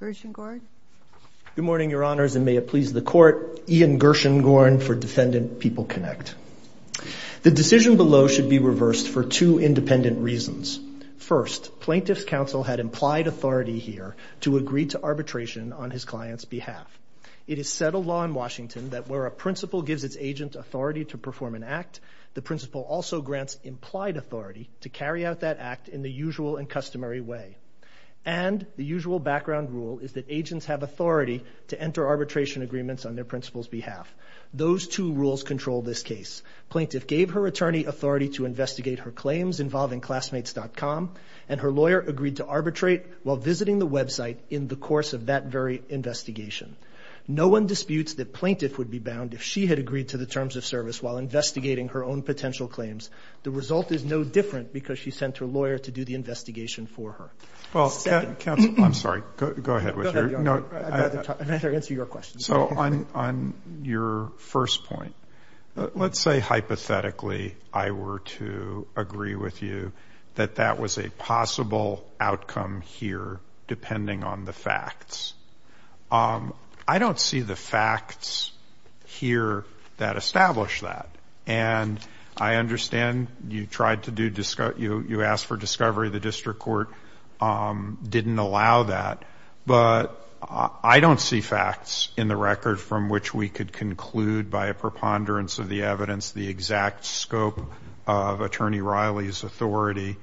Gershengorn. Good morning, Your Honors, and may it please the Court, Ian Gershengorn for Defendant PeopleConnect. The decision below should be reversed for two independent reasons. First, Plaintiff's Counsel had implied authority here to agree to arbitration on his client's behalf. It is settled law in Washington that where a principal gives its agent authority to perform an act, the principal also grants implied authority to carry out that act in the usual and customary way. And the usual background rule is that agents have authority to enter arbitration agreements on their principal's behalf. Those two rules control this case. Plaintiff gave her attorney authority to investigate her claims involving Classmates.com, and her lawyer agreed to arbitrate while visiting the website in the course of that very investigation. No one disputes that Plaintiff would be bound if she had agreed to the terms of service while investigating her own potential claims. The result is no different because she sent her lawyer to do the investigation for her. Second. I'm sorry. Go ahead. I'd rather answer your question. So on your first point, let's say hypothetically I were to agree with you that that was a possible outcome here depending on the facts. I don't see the facts here that establish that. And I understand you tried to do you asked for discovery. The district court didn't allow that. But I don't see facts in the record from which we could conclude by a preponderance of the evidence the exact scope of Attorney Riley's authority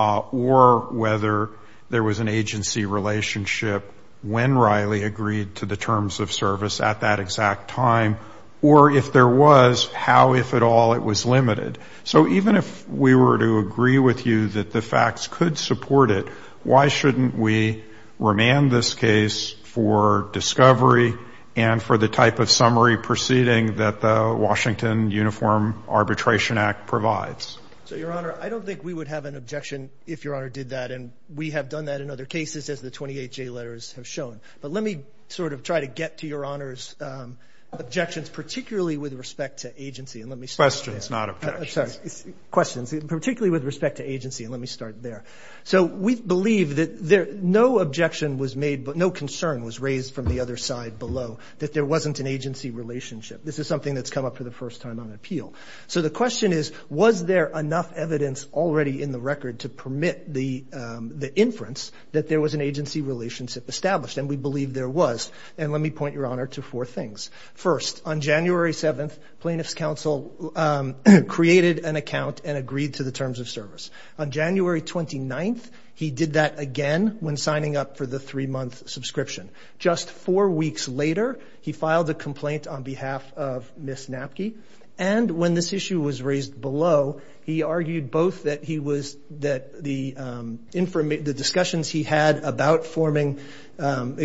or whether there was an agency relationship when Riley agreed to the terms of service at that exact time, or if there was, how, if at all, it was limited. So even if we were to agree with you that the facts could support it, why shouldn't we remand this case for discovery and for the type of summary proceeding that the Washington Uniform Arbitration Act provides? So, Your Honor, I don't think we would have an objection if Your Honor did that, and we have done that in other cases as the 28 J letters have shown. But let me sort of try to get to Your Honor's objections, particularly with respect to agency. And let me start there. Questions, not objections. Questions, particularly with respect to agency. And let me start there. So we believe that no objection was made, but no concern was raised from the other side below, that there wasn't an agency relationship. This is something that's come up for the first time on appeal. So the question is, was there enough evidence already in the record to permit the inference that there was an agency relationship established? And we believe there was. And let me point, Your Honor, to four things. First, on January 7th, plaintiff's counsel created an account and agreed to the terms of service. On January 29th, he did that again when signing up for the three-month subscription. Just four weeks later, he filed a complaint on behalf of Ms. Napke. And when this issue was raised below, he argued both that the discussions he had about getting on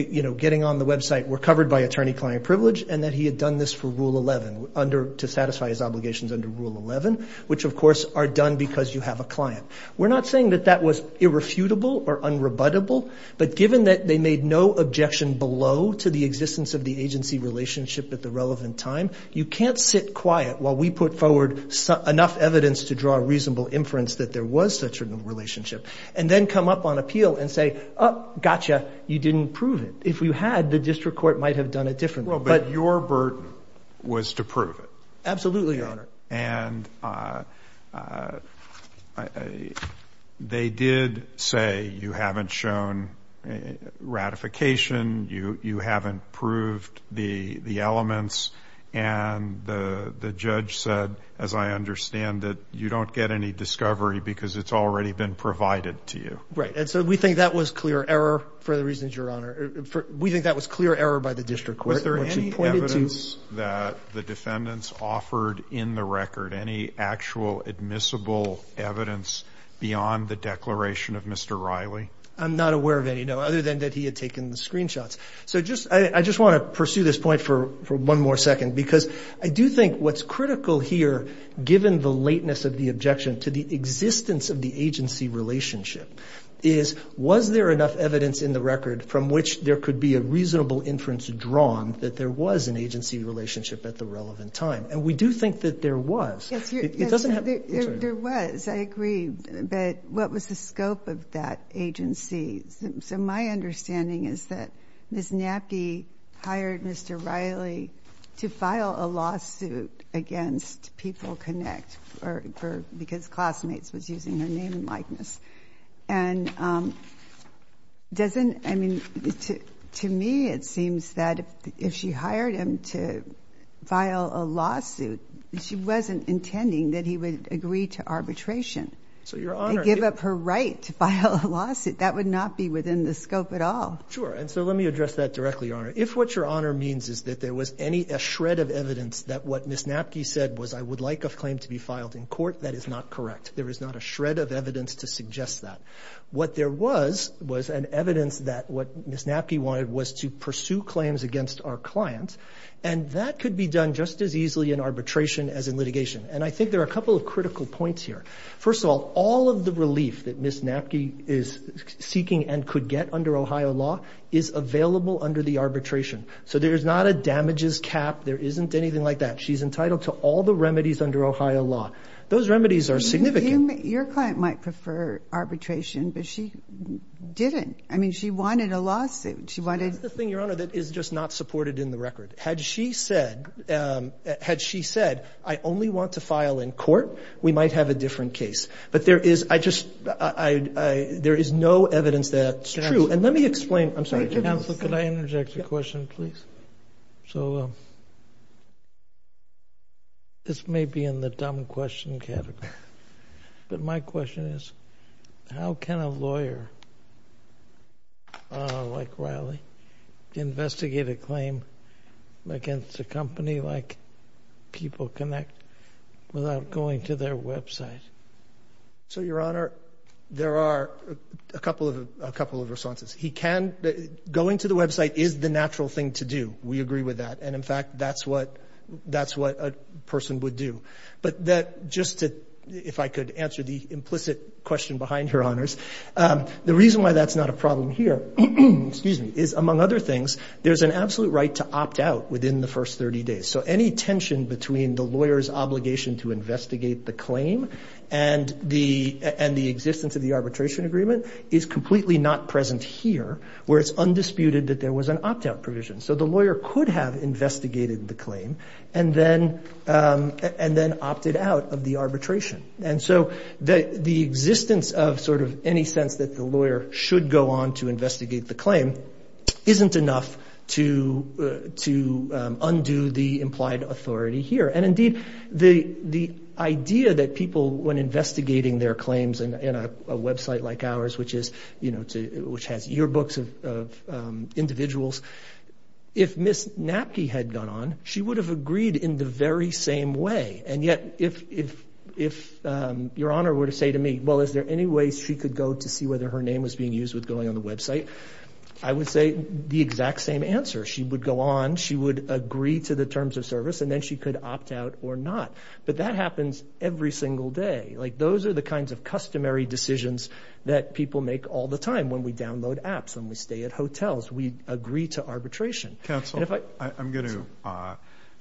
the website were covered by attorney-client privilege and that he had done this for Rule 11, to satisfy his obligations under Rule 11, which, of course, are done because you have a client. We're not saying that that was irrefutable or unrebuttable, but given that they made no objection below to the existence of the agency relationship at the relevant time, you can't sit quiet while we put forward enough evidence to draw a reasonable inference that there was such a relationship and then come up on appeal and say, oh, gotcha, you didn't prove it. If you had, the district court might have done it differently. But your burden was to prove it. Absolutely, Your Honor. And they did say you haven't shown ratification, you haven't proved the elements, and the judge said, as I understand it, you don't get any discovery because it's already been provided to you. Right. And so we think that was clear error for the reasons, Your Honor. We think that was clear error by the district court. Was there any evidence that the defendants offered in the record, any actual admissible evidence beyond the declaration of Mr. Riley? I'm not aware of any, no, other than that he had taken the screenshots. So I just want to pursue this point for one more second because I do think what's critical here, given the lateness of the objection to the existence of the agency relationship, is was there enough evidence in the record from which there could be a reasonable inference drawn that there was an agency relationship at the relevant time? And we do think that there was. Yes, there was. I agree. But what was the scope of that agency? So my understanding is that Ms. Nappi hired Mr. Riley to file a lawsuit against People Connect because classmates was using her name and likeness. And doesn't, I mean, to me it seems that if she hired him to file a lawsuit, she wasn't intending that he would agree to arbitration. So, Your Honor. And give up her right to file a lawsuit. That would not be within the scope at all. Sure. And so let me address that directly, Your Honor. If what Your Honor means is that there was any, that what Ms. Nappi said was I would like a claim to be filed in court, that is not correct. There is not a shred of evidence to suggest that. What there was was an evidence that what Ms. Nappi wanted was to pursue claims against our client, and that could be done just as easily in arbitration as in litigation. And I think there are a couple of critical points here. First of all, all of the relief that Ms. Nappi is seeking and could get under Ohio law is available under the arbitration. So there's not a damages cap. There isn't anything like that. She's entitled to all the remedies under Ohio law. Those remedies are significant. Your client might prefer arbitration, but she didn't. I mean, she wanted a lawsuit. She wanted to. That's the thing, Your Honor, that is just not supported in the record. Had she said, had she said, I only want to file in court, we might have a different case. But there is, I just, there is no evidence that's true. And let me explain. I'm sorry. Counsel, could I interject a question, please? So this may be in the dumb question category, but my question is, how can a lawyer like Riley investigate a claim against a company like People Connect without going to their website? So, Your Honor, there are a couple of responses. He can, going to the website is the natural thing to do. We agree with that. And, in fact, that's what a person would do. But just to, if I could answer the implicit question behind, Your Honors, the reason why that's not a problem here is, among other things, there's an absolute right to opt out within the first 30 days. So any tension between the lawyer's obligation to investigate the claim and the existence of the arbitration agreement is completely not present here, where it's undisputed that there was an opt-out provision. So the lawyer could have investigated the claim and then opted out of the arbitration. And so the existence of sort of any sense that the lawyer should go on to investigate the claim isn't enough to undo the implied authority here. And, indeed, the idea that people, when investigating their claims in a website like ours, which has yearbooks of individuals, if Ms. Napke had gone on, she would have agreed in the very same way. And yet, if Your Honor were to say to me, well, is there any way she could go to see whether her name was being used with going on the website, I would say the exact same answer. But that happens every single day. Like, those are the kinds of customary decisions that people make all the time. When we download apps, when we stay at hotels, we agree to arbitration. Counsel, I'm going to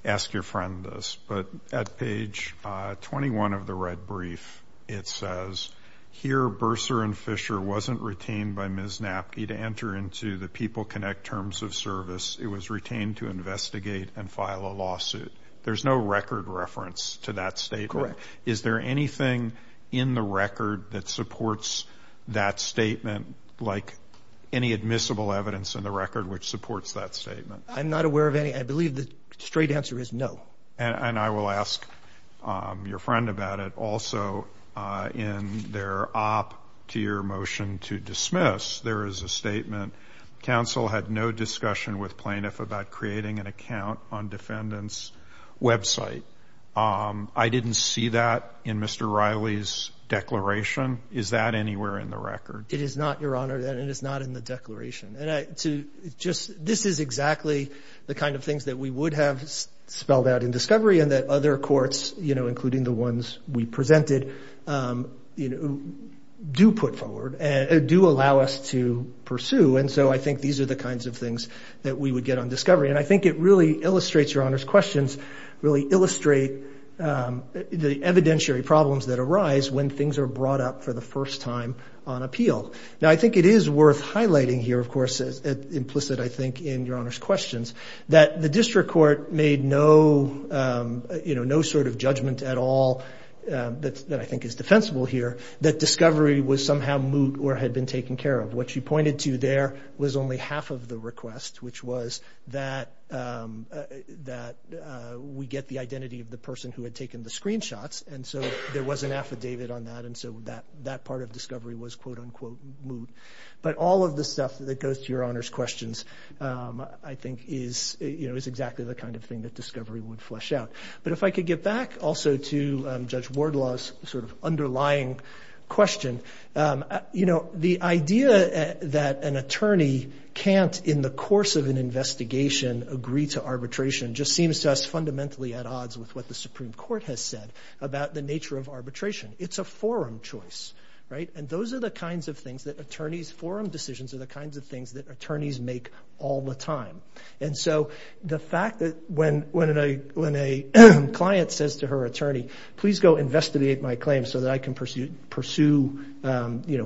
ask your friend this. But at page 21 of the red brief, it says, here Bursar and Fisher wasn't retained by Ms. Napke to enter into the PeopleConnect terms of service. It was retained to investigate and file a lawsuit. There's no record reference to that statement. Correct. Is there anything in the record that supports that statement, like any admissible evidence in the record which supports that statement? I'm not aware of any. I believe the straight answer is no. And I will ask your friend about it. In their op to your motion to dismiss, there is a statement, counsel had no discussion with plaintiff about creating an account on defendant's website. I didn't see that in Mr. Riley's declaration. Is that anywhere in the record? It is not, Your Honor, and it is not in the declaration. And this is exactly the kind of things that we would have spelled out in discovery and that other courts, including the ones we presented, do put forward and do allow us to pursue. And so I think these are the kinds of things that we would get on discovery. And I think it really illustrates, Your Honor's questions, really illustrate the evidentiary problems that arise when things are brought up for the first time on appeal. Now, I think it is worth highlighting here, of course, implicit, I think, in Your Honor's questions, that the district court made no sort of judgment at all that I think is defensible here, that discovery was somehow moot or had been taken care of. What she pointed to there was only half of the request, which was that we get the identity of the person who had taken the screenshots. And so there was an affidavit on that, and so that part of discovery was, quote, unquote, moot. But all of the stuff that goes to Your Honor's questions, I think, is exactly the kind of thing that discovery would flesh out. But if I could get back also to Judge Wardlaw's sort of underlying question, the idea that an attorney can't, in the course of an investigation, agree to arbitration just seems to us fundamentally at odds with what the Supreme Court has said about the nature of arbitration. It's a forum choice. Right? And those are the kinds of things that attorneys' forum decisions are the kinds of things that attorneys make all the time. And so the fact that when a client says to her attorney, please go investigate my claim so that I can pursue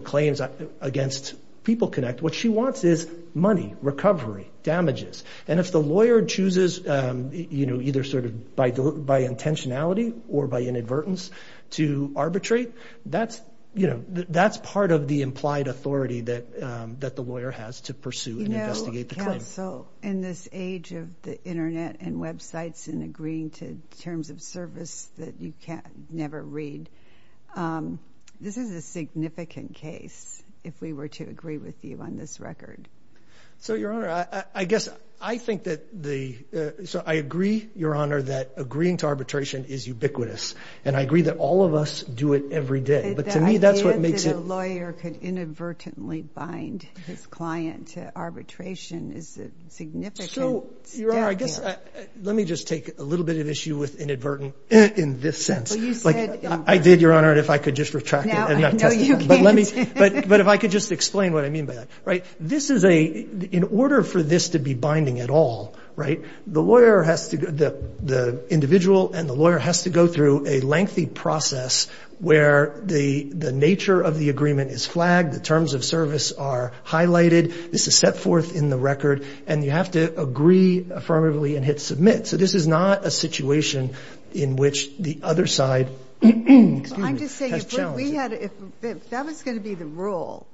claims against People Connect, what she wants is money, recovery, damages. And if the lawyer chooses, you know, either sort of by intentionality or by inadvertence to arbitrate, that's, you know, that's part of the implied authority that the lawyer has to pursue and investigate the claim. So in this age of the Internet and websites and agreeing to terms of service that you can't never read, this is a significant case if we were to agree with you on this record. So, Your Honor, I guess I think that the so I agree, Your Honor, that agreeing to arbitration is ubiquitous. And I agree that all of us do it every day. But to me, that's what makes a lawyer could inadvertently bind his client to arbitration is significant. So, Your Honor, I guess let me just take a little bit of issue with inadvertent in this sense. I did, Your Honor. And if I could just retract. But if I could just explain what I mean by that. Right. This is a in order for this to be binding at all. Right. The lawyer has to the individual and the lawyer has to go through a lengthy process where the nature of the agreement is flagged. The terms of service are highlighted. This is set forth in the record. And you have to agree affirmatively and hit submit. So this is not a situation in which the other side. I'm just saying we had if that was going to be the rule,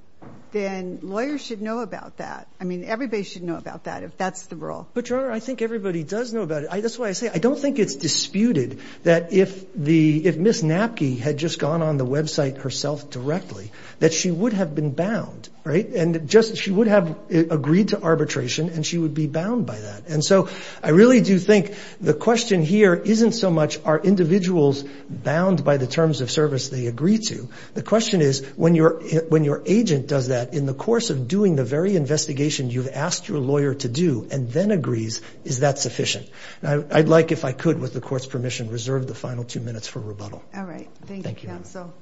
then lawyers should know about that. I mean, everybody should know about that if that's the rule. But, Your Honor, I think everybody does know about it. That's why I say I don't think it's disputed that if the if Miss Napke had just gone on the Web site herself directly, that she would have been bound. Right. And just she would have agreed to arbitration and she would be bound by that. And so I really do think the question here isn't so much are individuals bound by the terms of service they agree to. The question is when you're when your agent does that in the course of doing the very investigation you've asked your lawyer to do and then agrees. Is that sufficient? I'd like if I could, with the court's permission, reserve the final two minutes for rebuttal. All right. Thank you. So.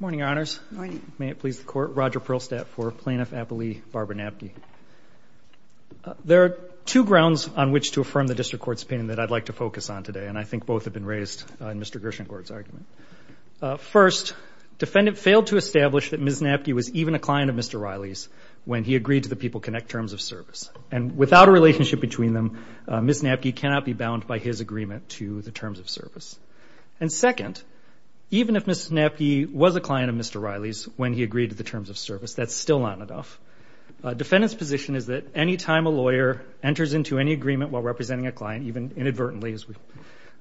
Morning, honors. May it please the court. Roger Perlstadt for plaintiff. Napoli, Barbara Napke. There are two grounds on which to affirm the district court's opinion that I'd like to focus on today. And I think both have been raised in Mr. Grisham court's argument. First, defendant failed to establish that Miss Napke was even a client of Mr. Riley's when he agreed to the people connect terms of service. And without a relationship between them, Miss Napke cannot be bound by his agreement to the terms of service. And second, even if Miss Napke was a client of Mr. Riley's when he agreed to the terms of service, that's still not enough. Defendant's position is that any time a lawyer enters into any agreement while representing a client, even inadvertently,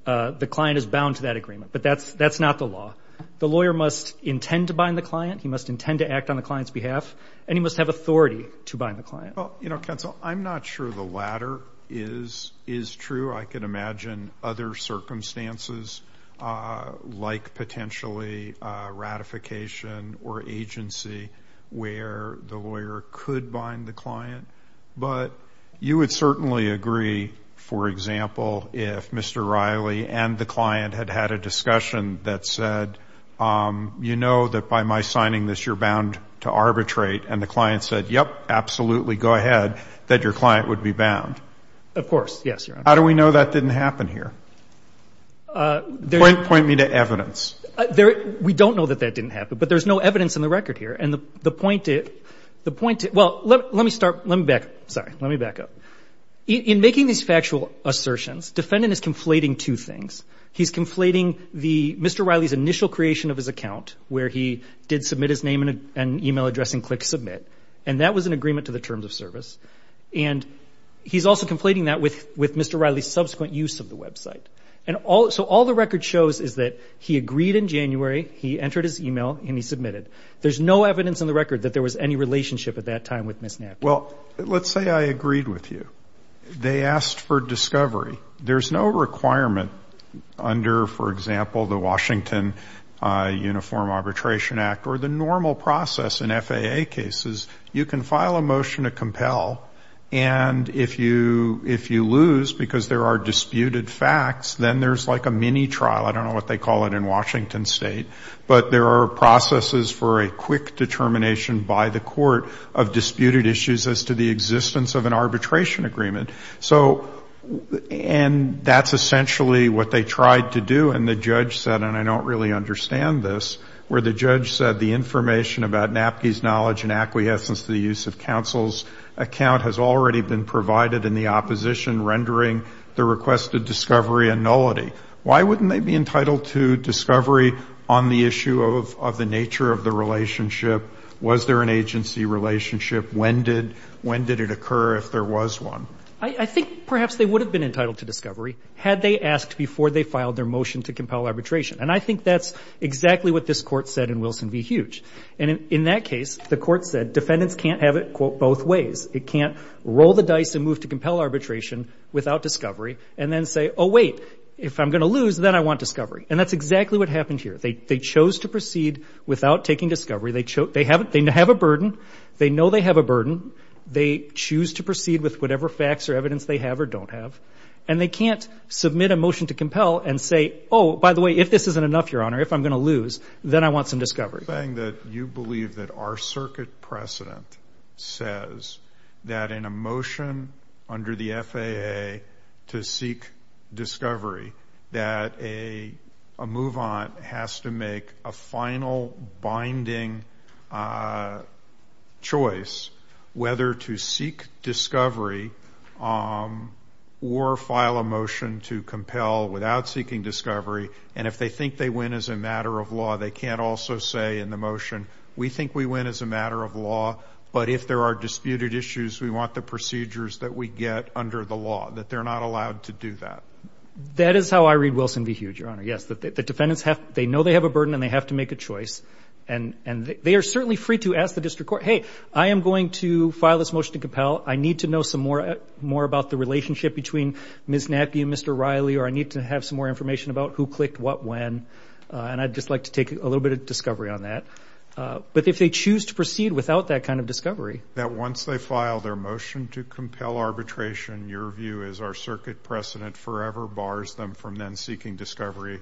the client is bound to that agreement. But that's that's not the law. The lawyer must intend to bind the client. He must intend to act on the client's behalf. And he must have authority to bind the client. Well, you know, counsel, I'm not sure the latter is is true. I can imagine other circumstances like potentially ratification or agency where the lawyer could bind the client. But you would certainly agree, for example, if Mr. Riley and the client had had a discussion that said, you know that by my signing this you're bound to arbitrate. And the client said, yep, absolutely, go ahead, that your client would be bound. Of course. Yes, Your Honor. How do we know that didn't happen here? Point me to evidence. We don't know that that didn't happen. But there's no evidence in the record here. And the point is the point. Well, let me start. Let me back up. Sorry. Let me back up. In making these factual assertions, defendant is conflating two things. He's conflating the Mr. Riley's initial creation of his account where he did submit his name and e-mail address and click submit. And that was an agreement to the terms of service. And he's also conflating that with Mr. Riley's subsequent use of the website. And so all the record shows is that he agreed in January, he entered his e-mail, and he submitted. There's no evidence in the record that there was any relationship at that time with Ms. Napier. Well, let's say I agreed with you. They asked for discovery. There's no requirement under, for example, the Washington Uniform Arbitration Act or the normal process in FAA cases. You can file a motion to compel. And if you lose because there are disputed facts, then there's like a mini trial. I don't know what they call it in Washington State. But there are processes for a quick determination by the court of disputed issues as to the existence of an arbitration agreement. And that's essentially what they tried to do. And I don't really understand this, where the judge said the information about Napke's knowledge and acquiescence to the use of counsel's account has already been provided in the opposition, rendering the requested discovery a nullity. Why wouldn't they be entitled to discovery on the issue of the nature of the relationship? Was there an agency relationship? When did it occur if there was one? I think perhaps they would have been entitled to discovery had they asked before they filed their motion to compel arbitration. And I think that's exactly what this court said in Wilson v. Huge. And in that case, the court said defendants can't have it both ways. It can't roll the dice and move to compel arbitration without discovery and then say, oh, wait, if I'm going to lose, then I want discovery. And that's exactly what happened here. They chose to proceed without taking discovery. They have a burden. They know they have a burden. They choose to proceed with whatever facts or evidence they have or don't have. And they can't submit a motion to compel and say, oh, by the way, if this isn't enough, Your Honor, if I'm going to lose, then I want some discovery. You're saying that you believe that our circuit precedent says that in a motion under the FAA to seek discovery that a move-on has to make a final binding choice whether to seek discovery or file a motion to compel without seeking discovery. And if they think they win as a matter of law, they can't also say in the motion, we think we win as a matter of law, but if there are disputed issues, we want the procedures that we get under the law, that they're not allowed to do that. That is how I read Wilson v. Hughes, Your Honor. Yes, the defendants, they know they have a burden and they have to make a choice. And they are certainly free to ask the district court, hey, I am going to file this motion to compel. I need to know some more about the relationship between Ms. Nappi and Mr. Riley or I need to have some more information about who clicked what when. And I'd just like to take a little bit of discovery on that. But if they choose to proceed without that kind of discovery. That once they file their motion to compel arbitration, your view is our circuit precedent forever bars them from then seeking discovery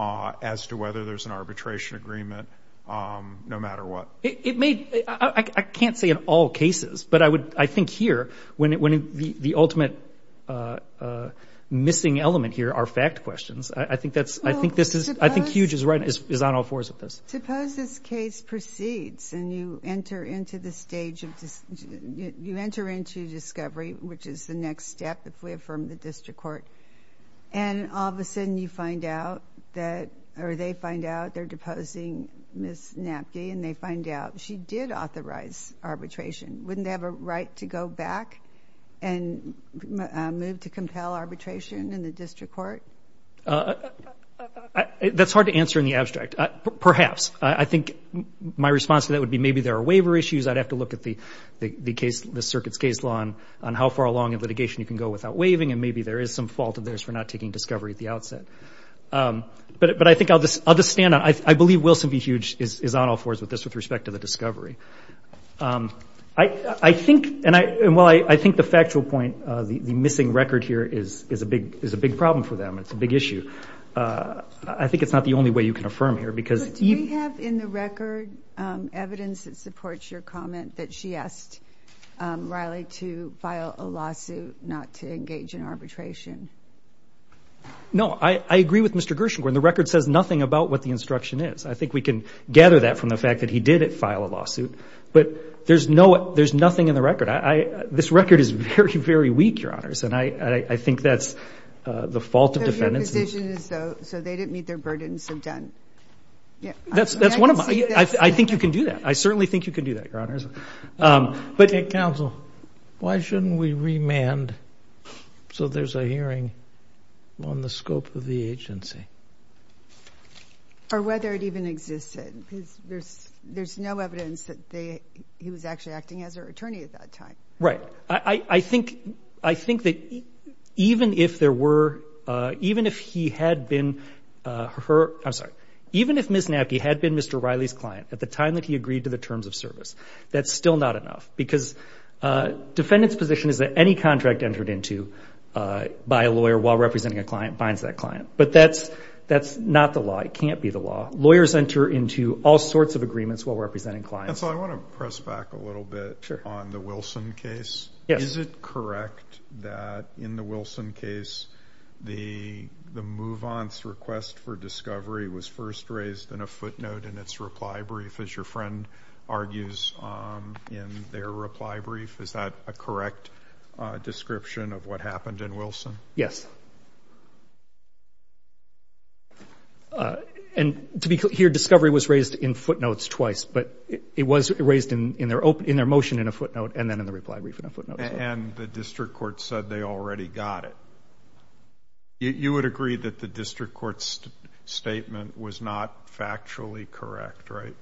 as to whether there's an arbitration agreement no matter what. I can't say in all cases, but I think here when the ultimate missing element here are fact questions, I think Hughes is on all fours with this. Suppose this case proceeds and you enter into the stage of discovery, which is the next step if we affirm the district court. And all of a sudden you find out that or they find out they're deposing Ms. Nappi and they find out she did authorize arbitration. Wouldn't they have a right to go back and move to compel arbitration in the district court? That's hard to answer in the abstract. Perhaps. I think my response to that would be maybe there are waiver issues. I'd have to look at the circuit's case law on how far along in litigation you can go without waiving and maybe there is some fault of theirs for not taking discovery at the outset. But I think I'll just stand on it. I believe Wilson v. Hughes is on all fours with this with respect to the discovery. I think the factual point, the missing record here is a big problem for them. It's a big issue. I think it's not the only way you can affirm here. Do we have in the record evidence that supports your comment that she asked Riley to file a lawsuit, not to engage in arbitration? No. I agree with Mr. Gershengorn. The record says nothing about what the instruction is. I think we can gather that from the fact that he did file a lawsuit. But there's nothing in the record. This record is very, very weak, Your Honors, and I think that's the fault of defendants. So your position is so they didn't meet their burdens and done. That's one of them. I think you can do that. I certainly think you can do that, Your Honors. Counsel, why shouldn't we remand so there's a hearing on the scope of the agency? Or whether it even existed, because there's no evidence that he was actually acting as her attorney at that time. Right. I think that even if there were – even if he had been her – I'm sorry. Even if Ms. Napke had been Mr. Riley's client at the time that he agreed to the terms of service, that's still not enough, because defendants' position is that any contract entered into by a lawyer while representing a client binds that client. But that's not the law. It can't be the law. Lawyers enter into all sorts of agreements while representing clients. Counsel, I want to press back a little bit on the Wilson case. Is it correct that in the Wilson case the move-on's request for discovery was first raised in a footnote in its reply brief, as your friend argues in their reply brief? Is that a correct description of what happened in Wilson? Yes. And to be clear, discovery was raised in footnotes twice, but it was raised in their motion in a footnote and then in the reply brief in a footnote. And the district court said they already got it. You would agree that the district court's statement was not factually correct, right?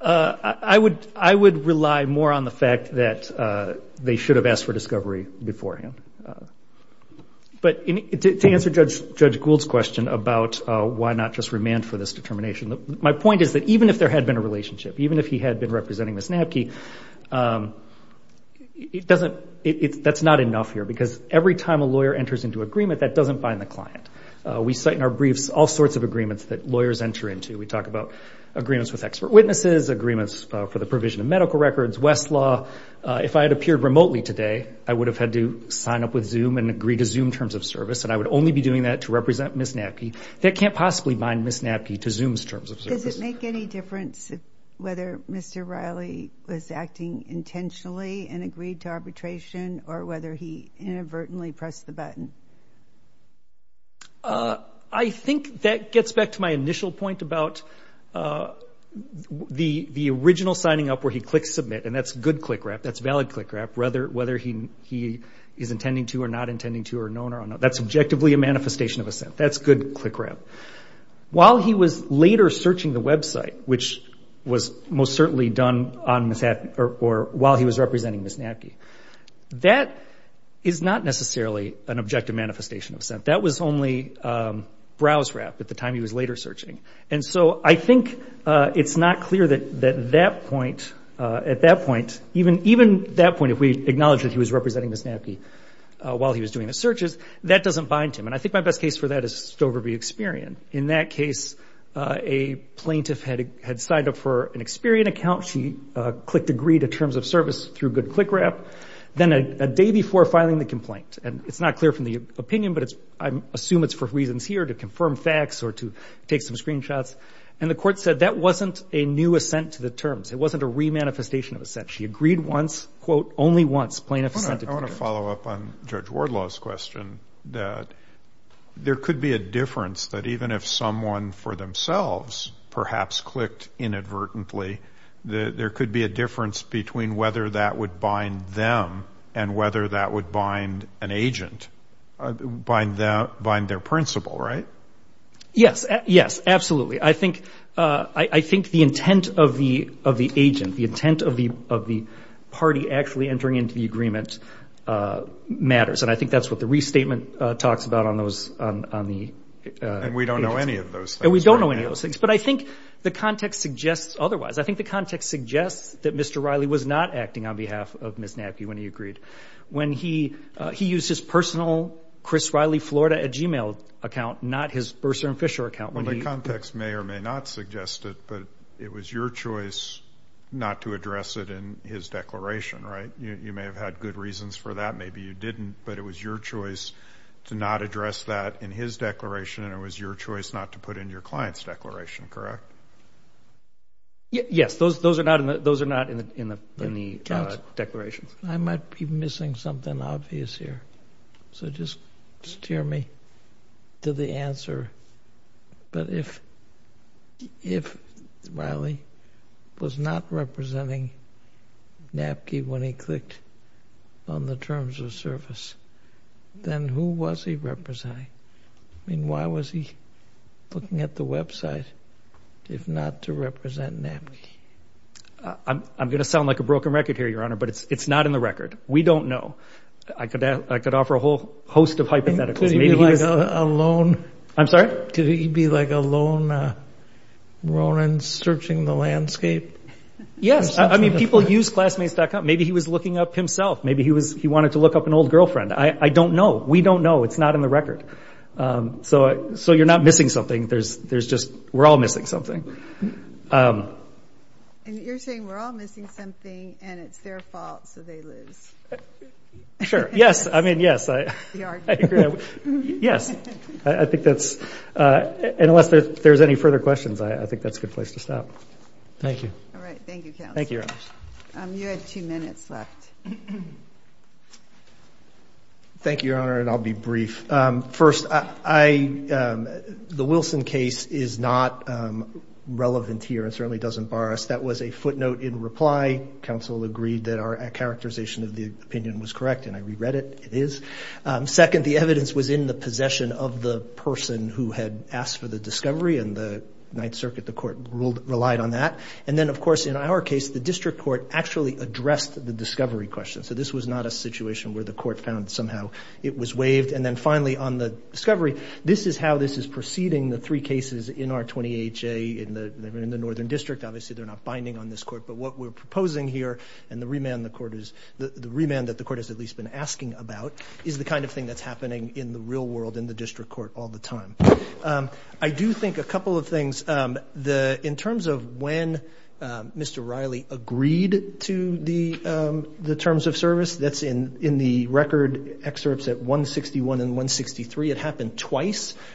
I would rely more on the fact that they should have asked for discovery beforehand. But to answer Judge Gould's question about why not just remand for this determination, my point is that even if there had been a relationship, even if he had been representing Ms. Nabke, that's not enough here, because every time a lawyer enters into agreement, that doesn't bind the client. We cite in our briefs all sorts of agreements that lawyers enter into. We talk about agreements with expert witnesses, agreements for the provision of medical records, Westlaw. If I had appeared remotely today, I would have had to sign up with Zoom and agree to Zoom terms of service, and I would only be doing that to represent Ms. Nabke. That can't possibly bind Ms. Nabke to Zoom's terms of service. Does it make any difference whether Mr. Riley was acting intentionally and agreed to arbitration or whether he inadvertently pressed the button? I think that gets back to my initial point about the original signing up where he clicks submit, and that's good click wrap, that's valid click wrap, whether he is intending to or not intending to or known or unknown. That's objectively a manifestation of assent. That's good click wrap. While he was later searching the website, which was most certainly done on Ms. Nabke That is not necessarily an objective manifestation of assent. That was only browse wrap at the time he was later searching. And so I think it's not clear that that point, at that point, even that point if we acknowledge that he was representing Ms. Nabke while he was doing the searches, that doesn't bind him, and I think my best case for that is Stover v. Experian. In that case, a plaintiff had signed up for an Experian account. She clicked agree to terms of service through good click wrap. Then a day before filing the complaint, and it's not clear from the opinion, but I assume it's for reasons here to confirm facts or to take some screenshots, and the court said that wasn't a new assent to the terms. It wasn't a remanifestation of assent. She agreed once, quote, only once, plaintiff assented to terms. I want to follow up on Judge Wardlaw's question that there could be a difference that even if someone for themselves perhaps clicked inadvertently, there could be a difference between whether that would bind them and whether that would bind an agent, bind their principal, right? Yes. Yes, absolutely. I think the intent of the agent, the intent of the party actually entering into the agreement matters, and I think that's what the restatement talks about on the agents. And we don't know any of those things. And we don't know any of those things. But I think the context suggests otherwise. I think the context suggests that Mr. Riley was not acting on behalf of Ms. Nappi when he agreed. He used his personal Chris Riley, Florida, at Gmail account, not his Bursar and Fisher account. The context may or may not suggest it, but it was your choice not to address it in his declaration, right? You may have had good reasons for that. Maybe you didn't, but it was your choice to not address that in his declaration, and it was your choice not to put it in your client's declaration, correct? Yes, those are not in the declarations. I might be missing something obvious here, so just steer me to the answer. But if Riley was not representing Nappi when he clicked on the terms of service, then who was he representing? I mean, why was he looking at the website if not to represent Nappi? I'm going to sound like a broken record here, Your Honor, but it's not in the record. We don't know. I could offer a whole host of hypotheticals. Could he be like a lone Ronin searching the landscape? Yes, I mean, people use Classmates.com. Maybe he was looking up himself. Maybe he wanted to look up an old girlfriend. I don't know. We don't know. It's not in the record. So you're not missing something. We're all missing something. And you're saying we're all missing something, and it's their fault, so they lose. Sure, yes, I mean, yes. Yes, I think that's unless there's any further questions, I think that's a good place to stop. Thank you. All right, thank you, Counsel. Thank you, Your Honor. You have two minutes left. Thank you, Your Honor, and I'll be brief. First, the Wilson case is not relevant here and certainly doesn't bar us. That was a footnote in reply. Counsel agreed that our characterization of the opinion was correct, and I reread it. It is. Second, the evidence was in the possession of the person who had asked for the discovery, and the Ninth Circuit, the court, relied on that. And then, of course, in our case, the district court actually addressed the discovery question. So this was not a situation where the court found somehow it was waived. And then, finally, on the discovery, this is how this is proceeding, the three cases in our 20HA. They're in the Northern District. Obviously, they're not binding on this court. But what we're proposing here and the remand that the court has at least been asking about is the kind of thing that's happening in the real world in the district court all the time. I do think a couple of things. In terms of when Mr. Riley agreed to the terms of service, that's in the record excerpts at 161 and 163.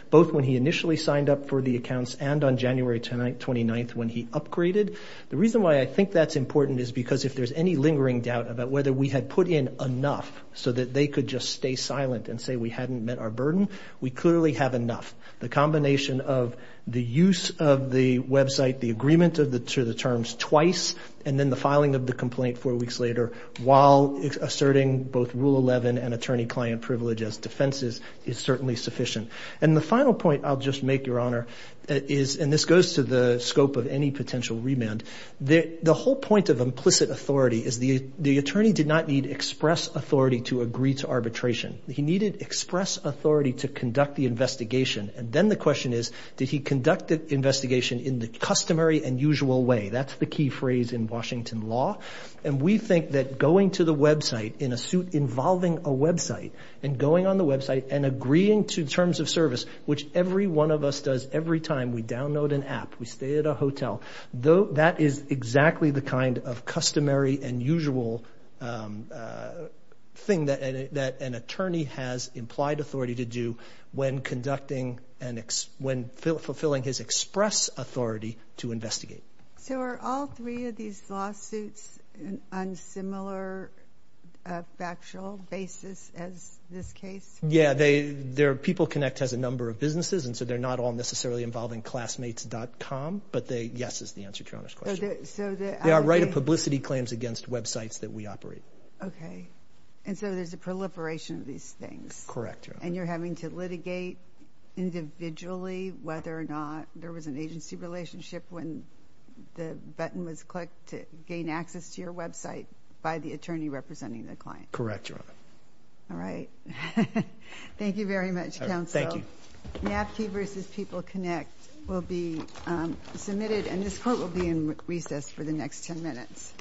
Both when he initially signed up for the accounts and on January 29th when he upgraded. The reason why I think that's important is because if there's any lingering doubt about whether we had put in enough so that they could just stay silent and say we hadn't met our burden, we clearly have enough. The combination of the use of the website, the agreement to the terms twice, and then the filing of the complaint four weeks later while asserting both Rule 11 and attorney-client privilege as defenses is certainly sufficient. And the final point I'll just make, Your Honor, and this goes to the scope of any potential remand, the whole point of implicit authority is the attorney did not need express authority to agree to arbitration. He needed express authority to conduct the investigation. And then the question is, did he conduct the investigation in the customary and usual way? That's the key phrase in Washington law. And we think that going to the website in a suit involving a website and going on the website and agreeing to terms of service, which every one of us does every time we download an app, we stay at a hotel, that is exactly the kind of customary and usual thing that an attorney has implied authority to do when conducting and when fulfilling his express authority to investigate. So are all three of these lawsuits on similar factual basis as this case? Yeah. People Connect has a number of businesses, and so they're not all necessarily involving classmates.com, but the yes is the answer to Your Honor's question. They are right of publicity claims against websites that we operate. Okay. And so there's a proliferation of these things. Correct, Your Honor. And you're having to litigate individually whether or not there was an agency relationship when the button was clicked to gain access to your website by the attorney representing the client. Correct, Your Honor. All right. Thank you very much, Counsel. Thank you. NAFTA v. People Connect will be submitted, and this court will be in recess for the next 10 minutes.